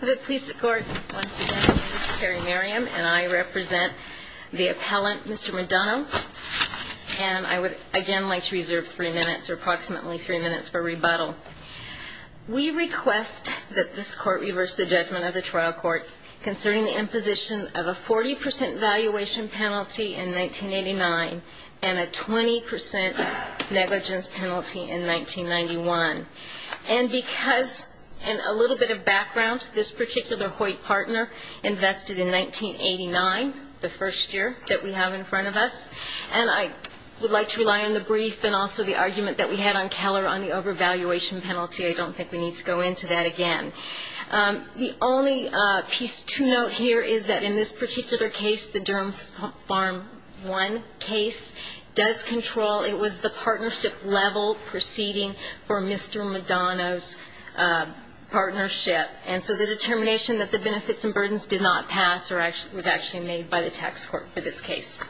The Police Court, once again, my name is Carrie Merriam and I represent the appellant, Mr. McDonough. And I would, again, like to reserve three minutes or approximately three minutes for rebuttal. We request that this court reverse the judgment of the trial court concerning the imposition of a 40% valuation penalty in 1989 and a 20% negligence penalty in 1991. And because, and a little bit of background, this particular Hoyt partner invested in 1989, the first year that we have in front of us, and I would like to rely on the brief and also the argument that we had on Keller on the overvaluation penalty. I don't think we need to go into that again. The only piece to note here is that in this particular case, the Durham Farm 1 case, does control, it was the partnership level proceeding for Mr. McDonough's partnership. And so the determination that the benefits and burdens did not pass was actually made by the tax court for this case.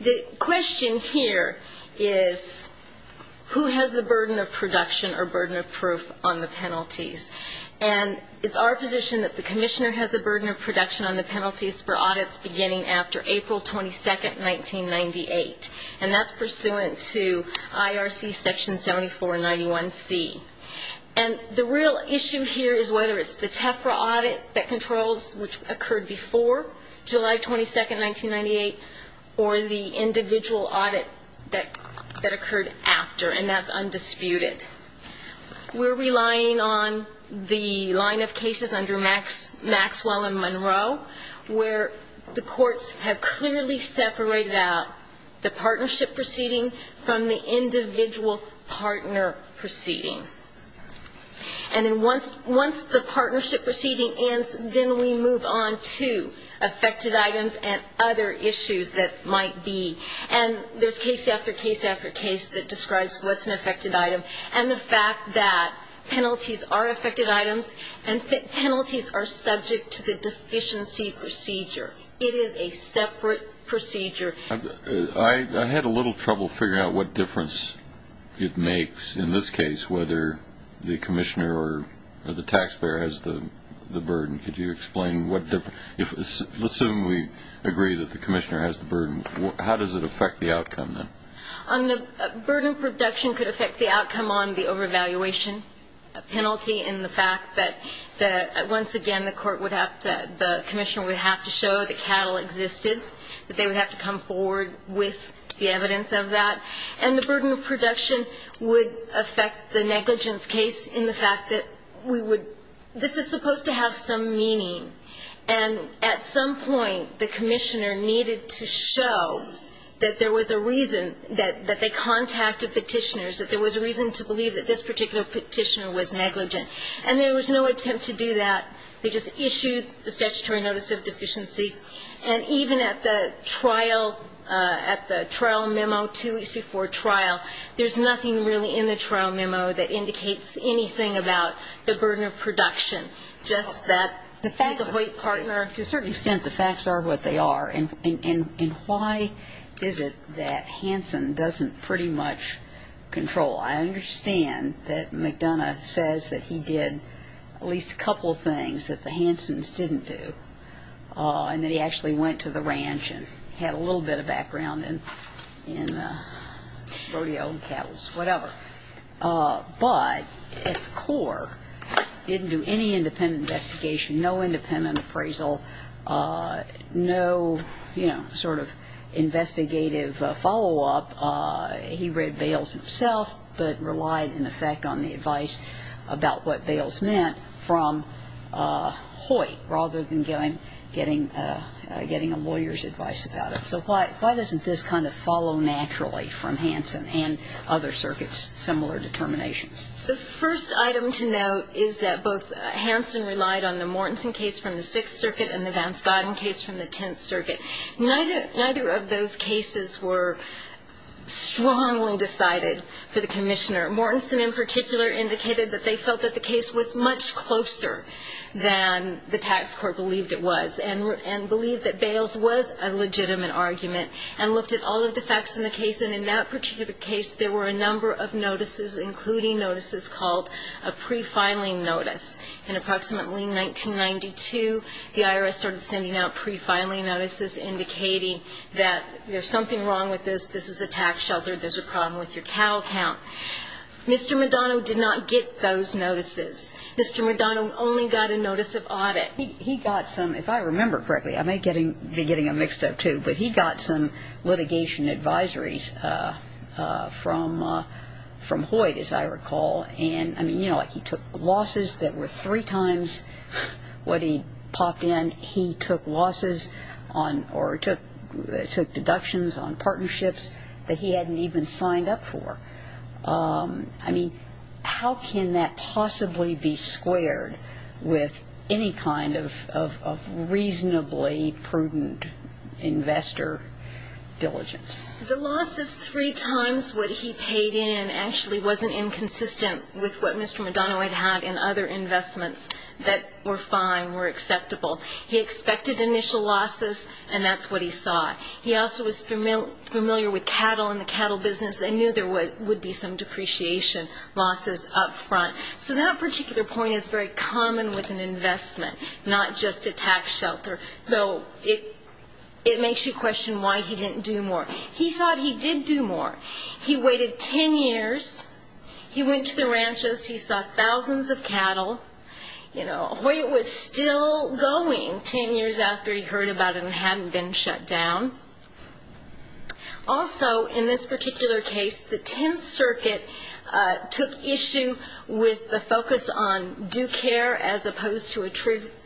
The question here is, who has the burden of production or burden of proof on the penalties? And it's our position that the commissioner has the burden of production on the penalties for audits beginning after April 22, 1998. And that's pursuant to IRC Section 7491C. And the real issue here is whether it's the TEFRA audit that controls, which occurred before July 22, 1998, or the individual audit that occurred after, and that's undisputed. We're relying on the line of cases under Maxwell and Monroe, where the courts have clearly separated out the partnership proceeding from the individual partner proceeding. And then once the partnership proceeding ends, then we move on to affected items and other issues that might be. And there's case after case after case that describes what's an affected item, and the fact that penalties are affected items and penalties are subject to the deficiency procedure. It is a separate procedure. I had a little trouble figuring out what difference it makes in this case, whether the commissioner or the taxpayer has the burden. Could you explain what difference? Let's assume we agree that the commissioner has the burden. How does it affect the outcome, then? The burden of production could affect the outcome on the overvaluation penalty in the fact that once again the court would have to, the commissioner would have to show that cattle existed, that they would have to come forward with the evidence of that. And the burden of production would affect the negligence case in the fact that we would, this is supposed to have some meaning. And at some point the commissioner needed to show that there was a reason, that they contacted petitioners, that there was a reason to believe that this particular petitioner was negligent. And there was no attempt to do that. They just issued the statutory notice of deficiency. And even at the trial, at the trial memo two weeks before trial, there's nothing really in the trial memo that indicates anything about the burden of production, just that he's a white partner. To a certain extent the facts are what they are. And why is it that Hansen doesn't pretty much control? I understand that McDonough says that he did at least a couple of things that the Hansens didn't do, and that he actually went to the ranch and had a little bit of background in rodeo and cattle, whatever. But at the core, he didn't do any independent investigation, no independent appraisal, no sort of investigative follow-up. He read Bales himself, but relied in effect on the advice about what Bales meant from Hoyt, rather than getting a lawyer's advice about it. So why doesn't this kind of follow naturally from Hansen and other circuits' similar determinations? The first item to note is that both Hansen relied on the Mortensen case from the Sixth Circuit and the Vance Godden case from the Tenth Circuit. Neither of those cases were strongly decided for the commissioner. Mortensen in particular indicated that they felt that the case was much closer than the tax court believed it was and believed that Bales was a legitimate argument, and looked at all of the facts in the case. And in that particular case, there were a number of notices, including notices called a pre-filing notice. In approximately 1992, the IRS started sending out pre-filing notices, indicating that there's something wrong with this, this is a tax shelter, there's a problem with your cattle count. Mr. McDonough did not get those notices. If I remember correctly, I may be getting them mixed up too, but he got some litigation advisories from Hoyt, as I recall, and he took losses that were three times what he popped in. He took losses or took deductions on partnerships that he hadn't even signed up for. I mean, how can that possibly be squared with any kind of reasonably prudent investor diligence? The losses three times what he paid in actually wasn't inconsistent with what Mr. McDonough had had in other investments that were fine, were acceptable. He expected initial losses, and that's what he saw. He also was familiar with cattle and the cattle business and knew there would be some depreciation losses up front. So that particular point is very common with an investment, not just a tax shelter, though it makes you question why he didn't do more. He thought he did do more. He waited 10 years. He went to the ranches. He saw thousands of cattle. Hoyt was still going 10 years after he heard about it and hadn't been shut down. Also, in this particular case, the Tenth Circuit took issue with the focus on due care as opposed to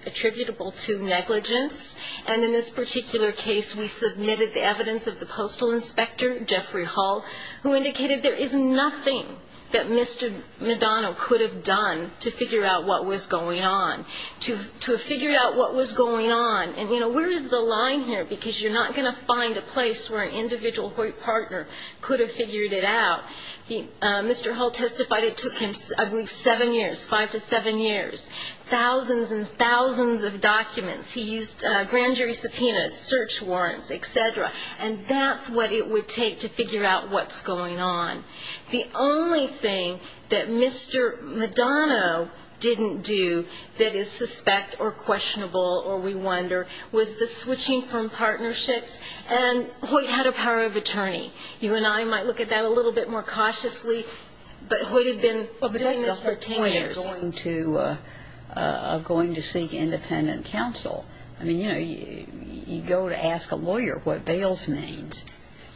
attributable to negligence, and in this particular case we submitted the evidence of the postal inspector, Jeffrey Hull, who indicated there is nothing that Mr. McDonough could have done to figure out what was going on, to have figured out what was going on. And, you know, where is the line here? Because you're not going to find a place where an individual Hoyt partner could have figured it out. Mr. Hull testified it took him, I believe, seven years, five to seven years, thousands and thousands of documents. He used grand jury subpoenas, search warrants, et cetera, and that's what it would take to figure out what's going on. The only thing that Mr. McDonough didn't do that is suspect or questionable or we wonder was the switching from partnerships, and Hoyt had a power of attorney. You and I might look at that a little bit more cautiously, but Hoyt had been doing this for 10 years. But that's the whole point of going to seek independent counsel. I mean, you know, you go to ask a lawyer what bails means.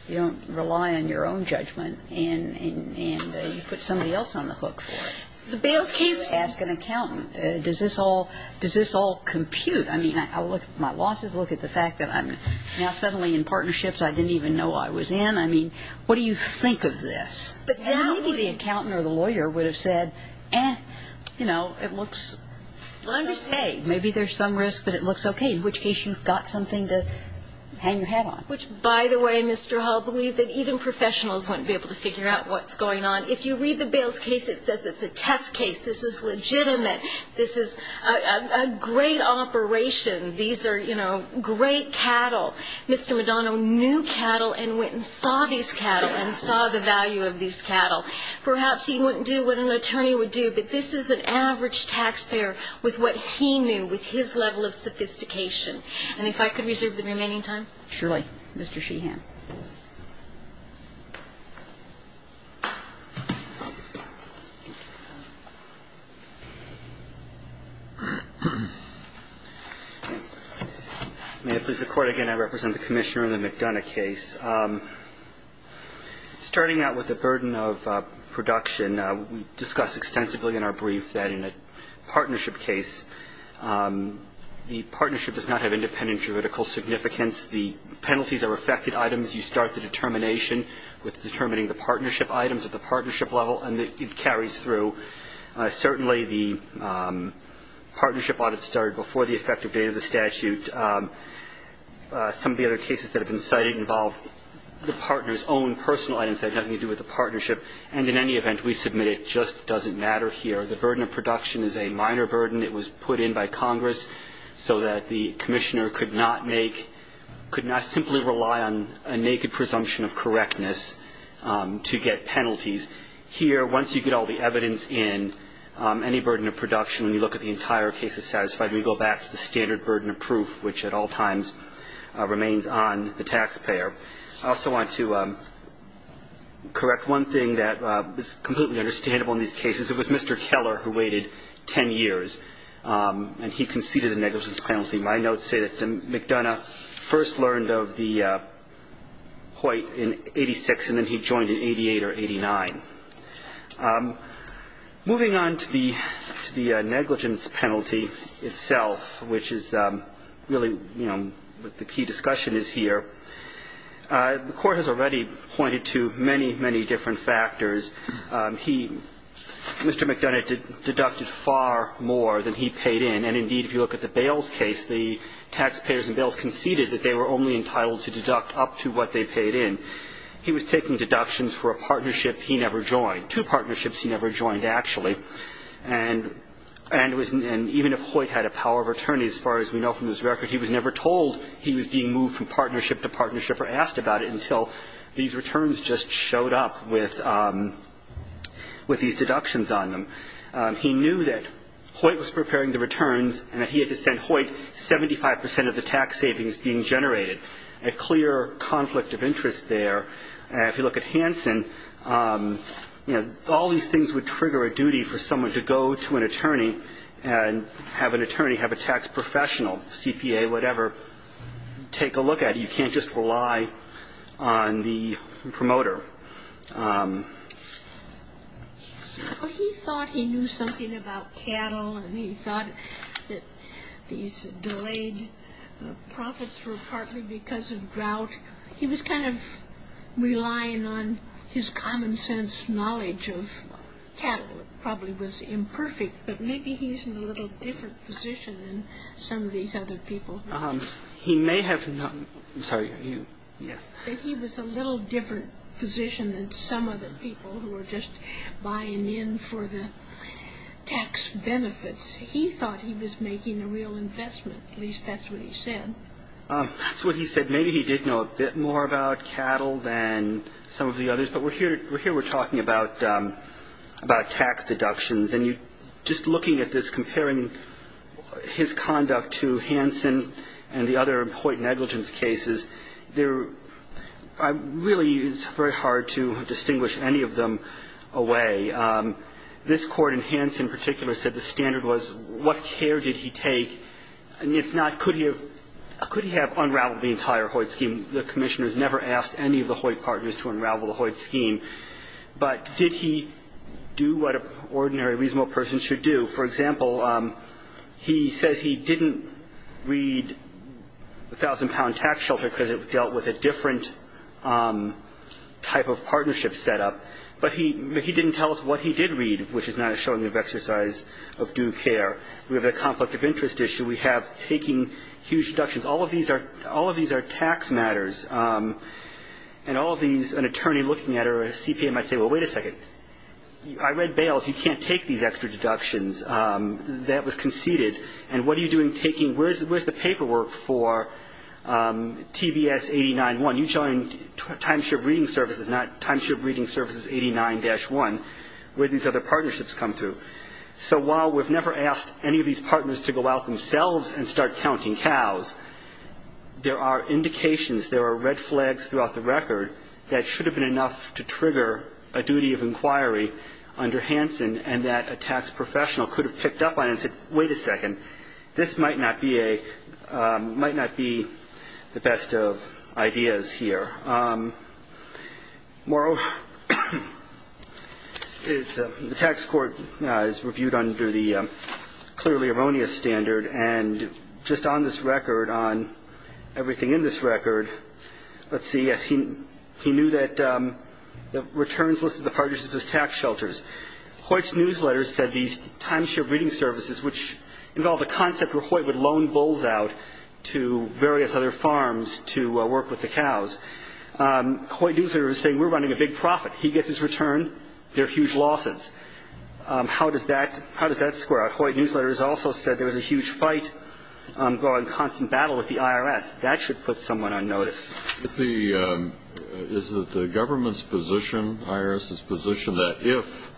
You don't rely on your own judgment, and you put somebody else on the hook for it. The bails case. You ask an accountant, does this all compute? I mean, I look at my losses, look at the fact that I'm now suddenly in partnerships I didn't even know I was in. I mean, what do you think of this? And maybe the accountant or the lawyer would have said, eh, you know, it looks okay. Maybe there's some risk, but it looks okay, in which case you've got something to hang your hat on. Which, by the way, Mr. Hull, believe that even professionals wouldn't be able to figure out what's going on. If you read the bails case, it says it's a test case. This is legitimate. This is a great operation. These are, you know, great cattle. Mr. McDonough knew cattle and went and saw these cattle and saw the value of these cattle. Perhaps he wouldn't do what an attorney would do, but this is an average taxpayer with what he knew, with his level of sophistication. And if I could reserve the remaining time. Surely, Mr. Sheehan. May it please the Court, again, I represent the Commissioner in the McDonough case. Starting out with the burden of production, we discussed extensively in our brief that in a partnership case, the partnership does not have independent juridical significance. The penalties are affected items. You start the determination with determining the partnership items at the partnership level, and it carries through. Certainly, the partnership audit started before the effective date of the statute. Some of the other cases that have been cited involve the partner's own personal items that have nothing to do with the partnership. And in any event, we submit it just doesn't matter here. The burden of production is a minor burden. It was put in by Congress so that the Commissioner could not make, could not simply rely on a naked presumption of correctness to get penalties. Here, once you get all the evidence in, any burden of production, when you look at the entire case as satisfied, we go back to the standard burden of proof, which at all times remains on the taxpayer. I also want to correct one thing that is completely understandable in these cases. It was Mr. Keller who waited 10 years, and he conceded a negligence penalty. My notes say that McDonough first learned of the Hoyt in 86, and then he joined in 88 or 89. Moving on to the negligence penalty itself, which is really, you know, what the key discussion is here, the Court has already pointed to many, many different factors. He, Mr. McDonough, deducted far more than he paid in. And indeed, if you look at the Bales case, the taxpayers in Bales conceded that they were only entitled to deduct up to what they paid in. Two partnerships he never joined, actually. And even if Hoyt had a power of attorney, as far as we know from his record, he was never told he was being moved from partnership to partnership or asked about it until these returns just showed up with these deductions on them. He knew that Hoyt was preparing the returns and that he had to send Hoyt 75 percent of the tax savings being generated, a clear conflict of interest there. If you look at Hansen, you know, all these things would trigger a duty for someone to go to an attorney and have an attorney have a tax professional, CPA, whatever, take a look at it. You can't just rely on the promoter. He thought he knew something about cattle, and he thought that these delayed profits were partly because of drought. He was kind of relying on his common sense knowledge of cattle. It probably was imperfect, but maybe he's in a little different position than some of these other people. He may have not. I'm sorry. Yes. He was a little different position than some other people who were just buying in for the tax benefits. He thought he was making a real investment. At least that's what he said. That's what he said. Maybe he did know a bit more about cattle than some of the others. But here we're talking about tax deductions. And just looking at this, comparing his conduct to Hansen and the other Hoyt negligence cases, there really is very hard to distinguish any of them away. This Court, in Hansen in particular, said the standard was what care did he take. Could he have unraveled the entire Hoyt scheme? The commissioners never asked any of the Hoyt partners to unravel the Hoyt scheme. But did he do what an ordinary reasonable person should do? For example, he says he didn't read the 1,000-pound tax shelter because it dealt with a different type of partnership setup. But he didn't tell us what he did read, which is not a showing of exercise of due care. We have a conflict of interest issue. We have taking huge deductions. All of these are tax matters. And all of these, an attorney looking at it or a CPA might say, well, wait a second. I read bails. You can't take these extra deductions. That was conceded. And what are you doing taking? Where's the paperwork for TBS 89-1? You joined Timeshare Breeding Services, not Timeshare Breeding Services 89-1, where these other partnerships come through. So while we've never asked any of these partners to go out themselves and start counting cows, there are indications, there are red flags throughout the record, that should have been enough to trigger a duty of inquiry under Hansen and that a tax professional could have picked up on it and said, wait a second, this might not be the best of ideas here. Morrow, the tax court is reviewed under the clearly erroneous standard, and just on this record, on everything in this record, let's see. Yes, he knew that the returns listed the partners as tax shelters. Hoyt's newsletter said these Timeshare Breeding Services, which involved a concept where Hoyt would loan bulls out to various other farms to work with the cows. Hoyt's newsletter is saying we're running a big profit. He gets his return. There are huge losses. How does that square out? Hoyt's newsletter also said there was a huge fight going, a constant battle with the IRS. That should put someone on notice. Is it the government's position, the IRS's position, that if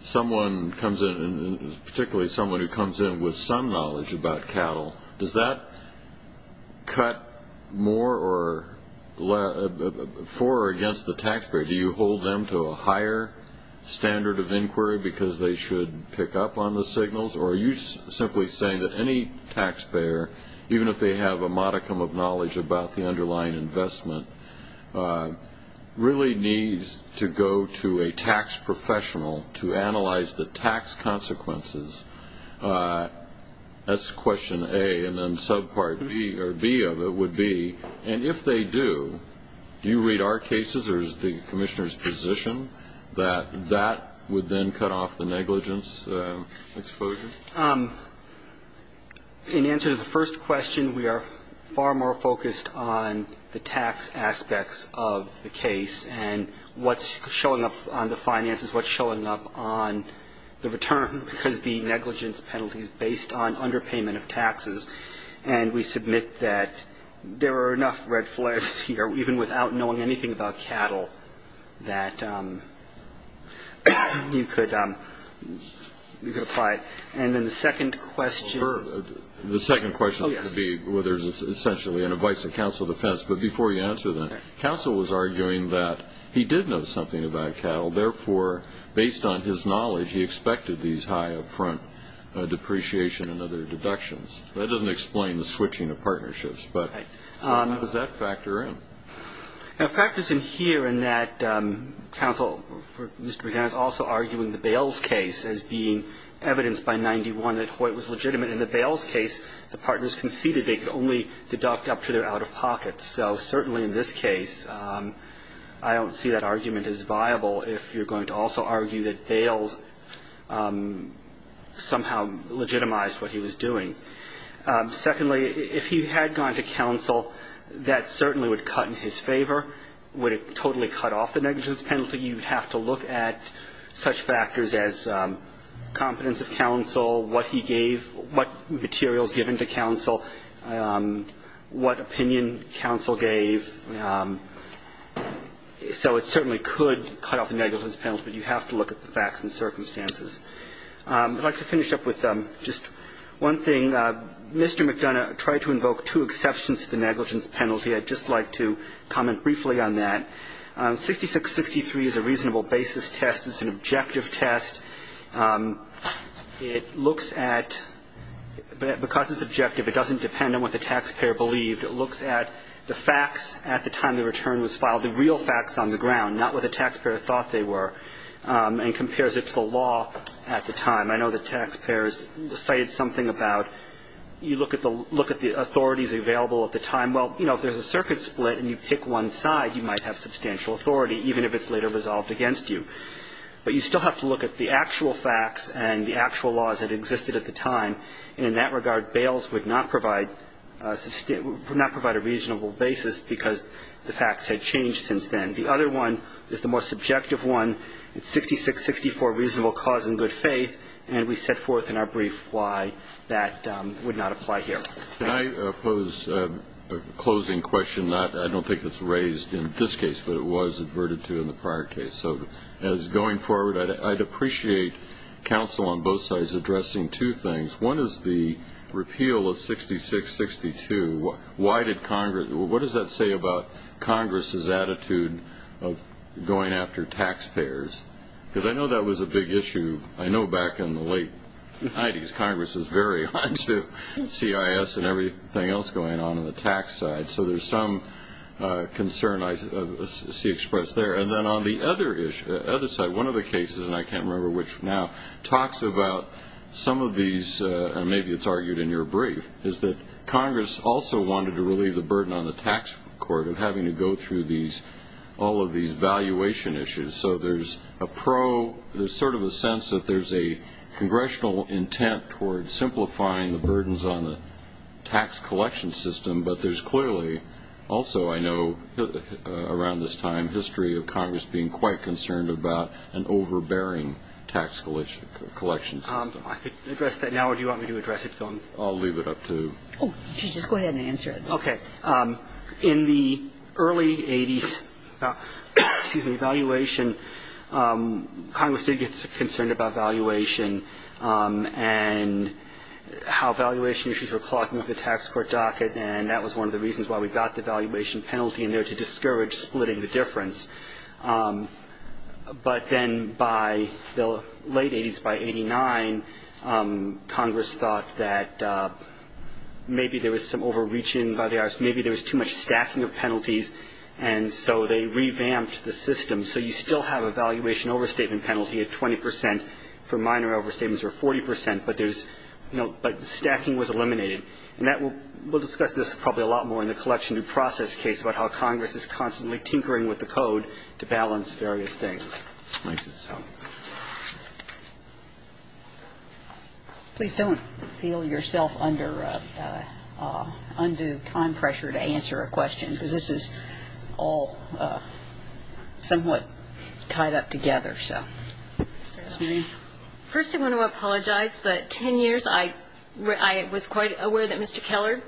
someone comes in, particularly someone who comes in with some knowledge about cattle, does that cut more for or against the taxpayer? Do you hold them to a higher standard of inquiry because they should pick up on the signals, or are you simply saying that any taxpayer, even if they have a modicum of knowledge about the underlying investment, really needs to go to a tax professional to analyze the tax consequences? That's question A, and then subpart B of it would be, and if they do, do you read our cases, or is the commissioner's position that that would then cut off the negligence exposure? In answer to the first question, we are far more focused on the tax aspects of the case and what's showing up on the finances, what's showing up on the return, because the negligence penalty is based on underpayment of taxes. And we submit that there are enough red flags here, even without knowing anything about cattle, that you could apply it. And then the second question. The second question could be, well, there's essentially an advice to counsel defense, but before you answer that, counsel was arguing that he did know something about cattle, therefore, based on his knowledge, he expected these high up-front depreciation and other deductions. That doesn't explain the switching of partnerships, but how does that factor in? It factors in here in that counsel, Mr. McGowan, is also arguing the Bales case as being evidenced by 91 that Hoyt was legitimate. In the Bales case, the partners conceded they could only deduct up to their out-of-pockets. So certainly in this case, I don't see that argument as viable if you're going to also argue that Bales somehow legitimized what he was doing. Secondly, if he had gone to counsel, that certainly would cut in his favor. Or would it totally cut off the negligence penalty? You would have to look at such factors as competence of counsel, what he gave, what materials given to counsel, what opinion counsel gave. So it certainly could cut off the negligence penalty, but you have to look at the facts and circumstances. I'd like to finish up with just one thing. Mr. McDonough tried to invoke two exceptions to the negligence penalty. I'd just like to comment briefly on that. 6663 is a reasonable basis test. It's an objective test. It looks at ñ because it's objective, it doesn't depend on what the taxpayer believed. It looks at the facts at the time the return was filed, the real facts on the ground, not what the taxpayer thought they were, and compares it to the law at the time. I know the taxpayers cited something about you look at the authorities available at the time. Well, you know, if there's a circuit split and you pick one side, you might have substantial authority, even if it's later resolved against you. But you still have to look at the actual facts and the actual laws that existed at the time, and in that regard, bails would not provide a reasonable basis because the facts had changed since then. The other one is the more subjective one. It's 6664, reasonable cause and good faith, and we set forth in our brief why that would not apply here. Can I pose a closing question? I don't think it's raised in this case, but it was adverted to in the prior case. So as going forward, I'd appreciate counsel on both sides addressing two things. One is the repeal of 6662. What does that say about Congress's attitude of going after taxpayers? Because I know that was a big issue. I know back in the late 90s, Congress was very onto CIS and everything else going on on the tax side. So there's some concern I see expressed there. And then on the other side, one of the cases, and I can't remember which now, talks about some of these, and maybe it's argued in your brief, is that Congress also wanted to relieve the burden on the tax court of having to go through all of these valuation issues. So there's a pro, there's sort of a sense that there's a congressional intent toward simplifying the burdens on the tax collection system. But there's clearly also, I know, around this time, history of Congress being quite concerned about an overbearing tax collection system. I could address that now, or do you want me to address it? I'll leave it up to you. Just go ahead and answer it. Okay. In the early 80s, excuse me, valuation, Congress did get concerned about valuation and how valuation issues were clogging up the tax court docket, and that was one of the reasons why we got the valuation penalty in there, to discourage splitting the difference. But then by the late 80s, by 89, Congress thought that maybe there was some overreaching by the IRS, maybe there was too much stacking of penalties, and so they revamped the system. So you still have a valuation overstatement penalty at 20 percent for minor overstatements, or 40 percent, but there's, you know, but stacking was eliminated. And that will, we'll discuss this probably a lot more in the collection due process case about how Congress is constantly tinkering with the code to balance various things. Please don't feel yourself under undue time pressure to answer a question, because this is all somewhat tied up together. First, I want to apologize, but 10 years, I was quite aware that Mr. Keller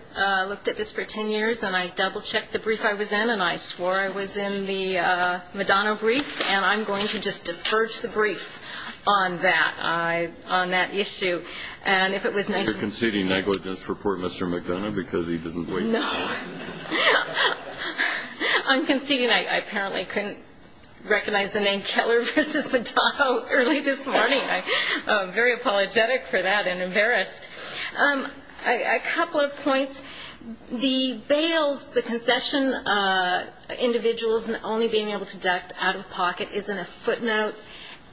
looked at this for 10 years, and I double-checked the brief I was in, and I swore I was in the Madonna brief, and I'm going to just defer to the brief on that, on that issue. And if it was nice. You're conceding negligence for Port Mr. Madonna because he didn't wait. No. I'm conceding. I apparently couldn't recognize the name Keller versus the Dotto early this morning. I'm very apologetic for that and embarrassed. A couple of points. The bails, the concession, individuals only being able to deduct out-of-pocket is in a footnote,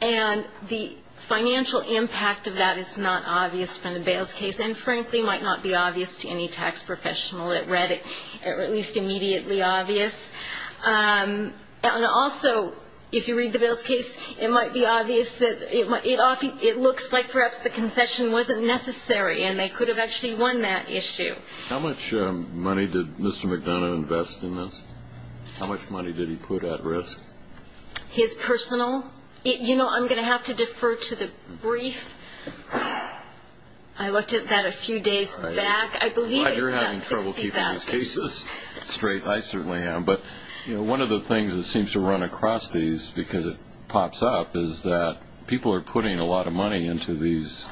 and the financial impact of that is not obvious from the bails case and, frankly, might not be obvious to any tax professional. It read it at least immediately obvious. And also, if you read the bails case, it might be obvious that it looks like perhaps the concession wasn't necessary, and they could have actually won that issue. How much money did Mr. Madonna invest in this? How much money did he put at risk? His personal? You know, I'm going to have to defer to the brief. I looked at that a few days back. I believe it's about $60,000. You're having trouble keeping the cases straight. I certainly am. But one of the things that seems to run across these because it pops up is that people are putting a lot of money into these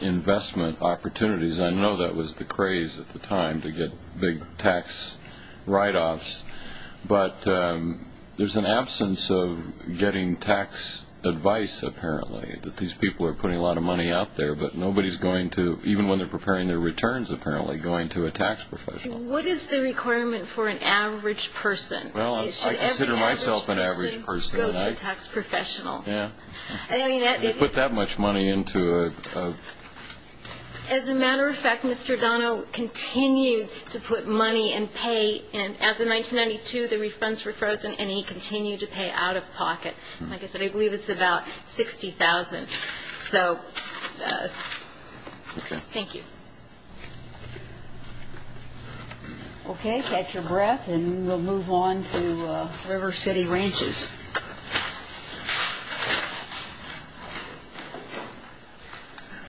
investment opportunities. I know that was the craze at the time to get big tax write-offs, but there's an absence of getting tax advice, apparently, that these people are putting a lot of money out there, but nobody's going to, even when they're preparing their returns, apparently, going to a tax professional. What is the requirement for an average person? Well, I consider myself an average person. Should every average person go to a tax professional? Yeah. They put that much money into a? As a matter of fact, Mr. Donnell continued to put money and pay, and as of 1992 the refunds were frozen and he continued to pay out of pocket. Like I said, I believe it's about $60,000. So thank you. Okay. Catch your breath and we'll move on to River City Ranches.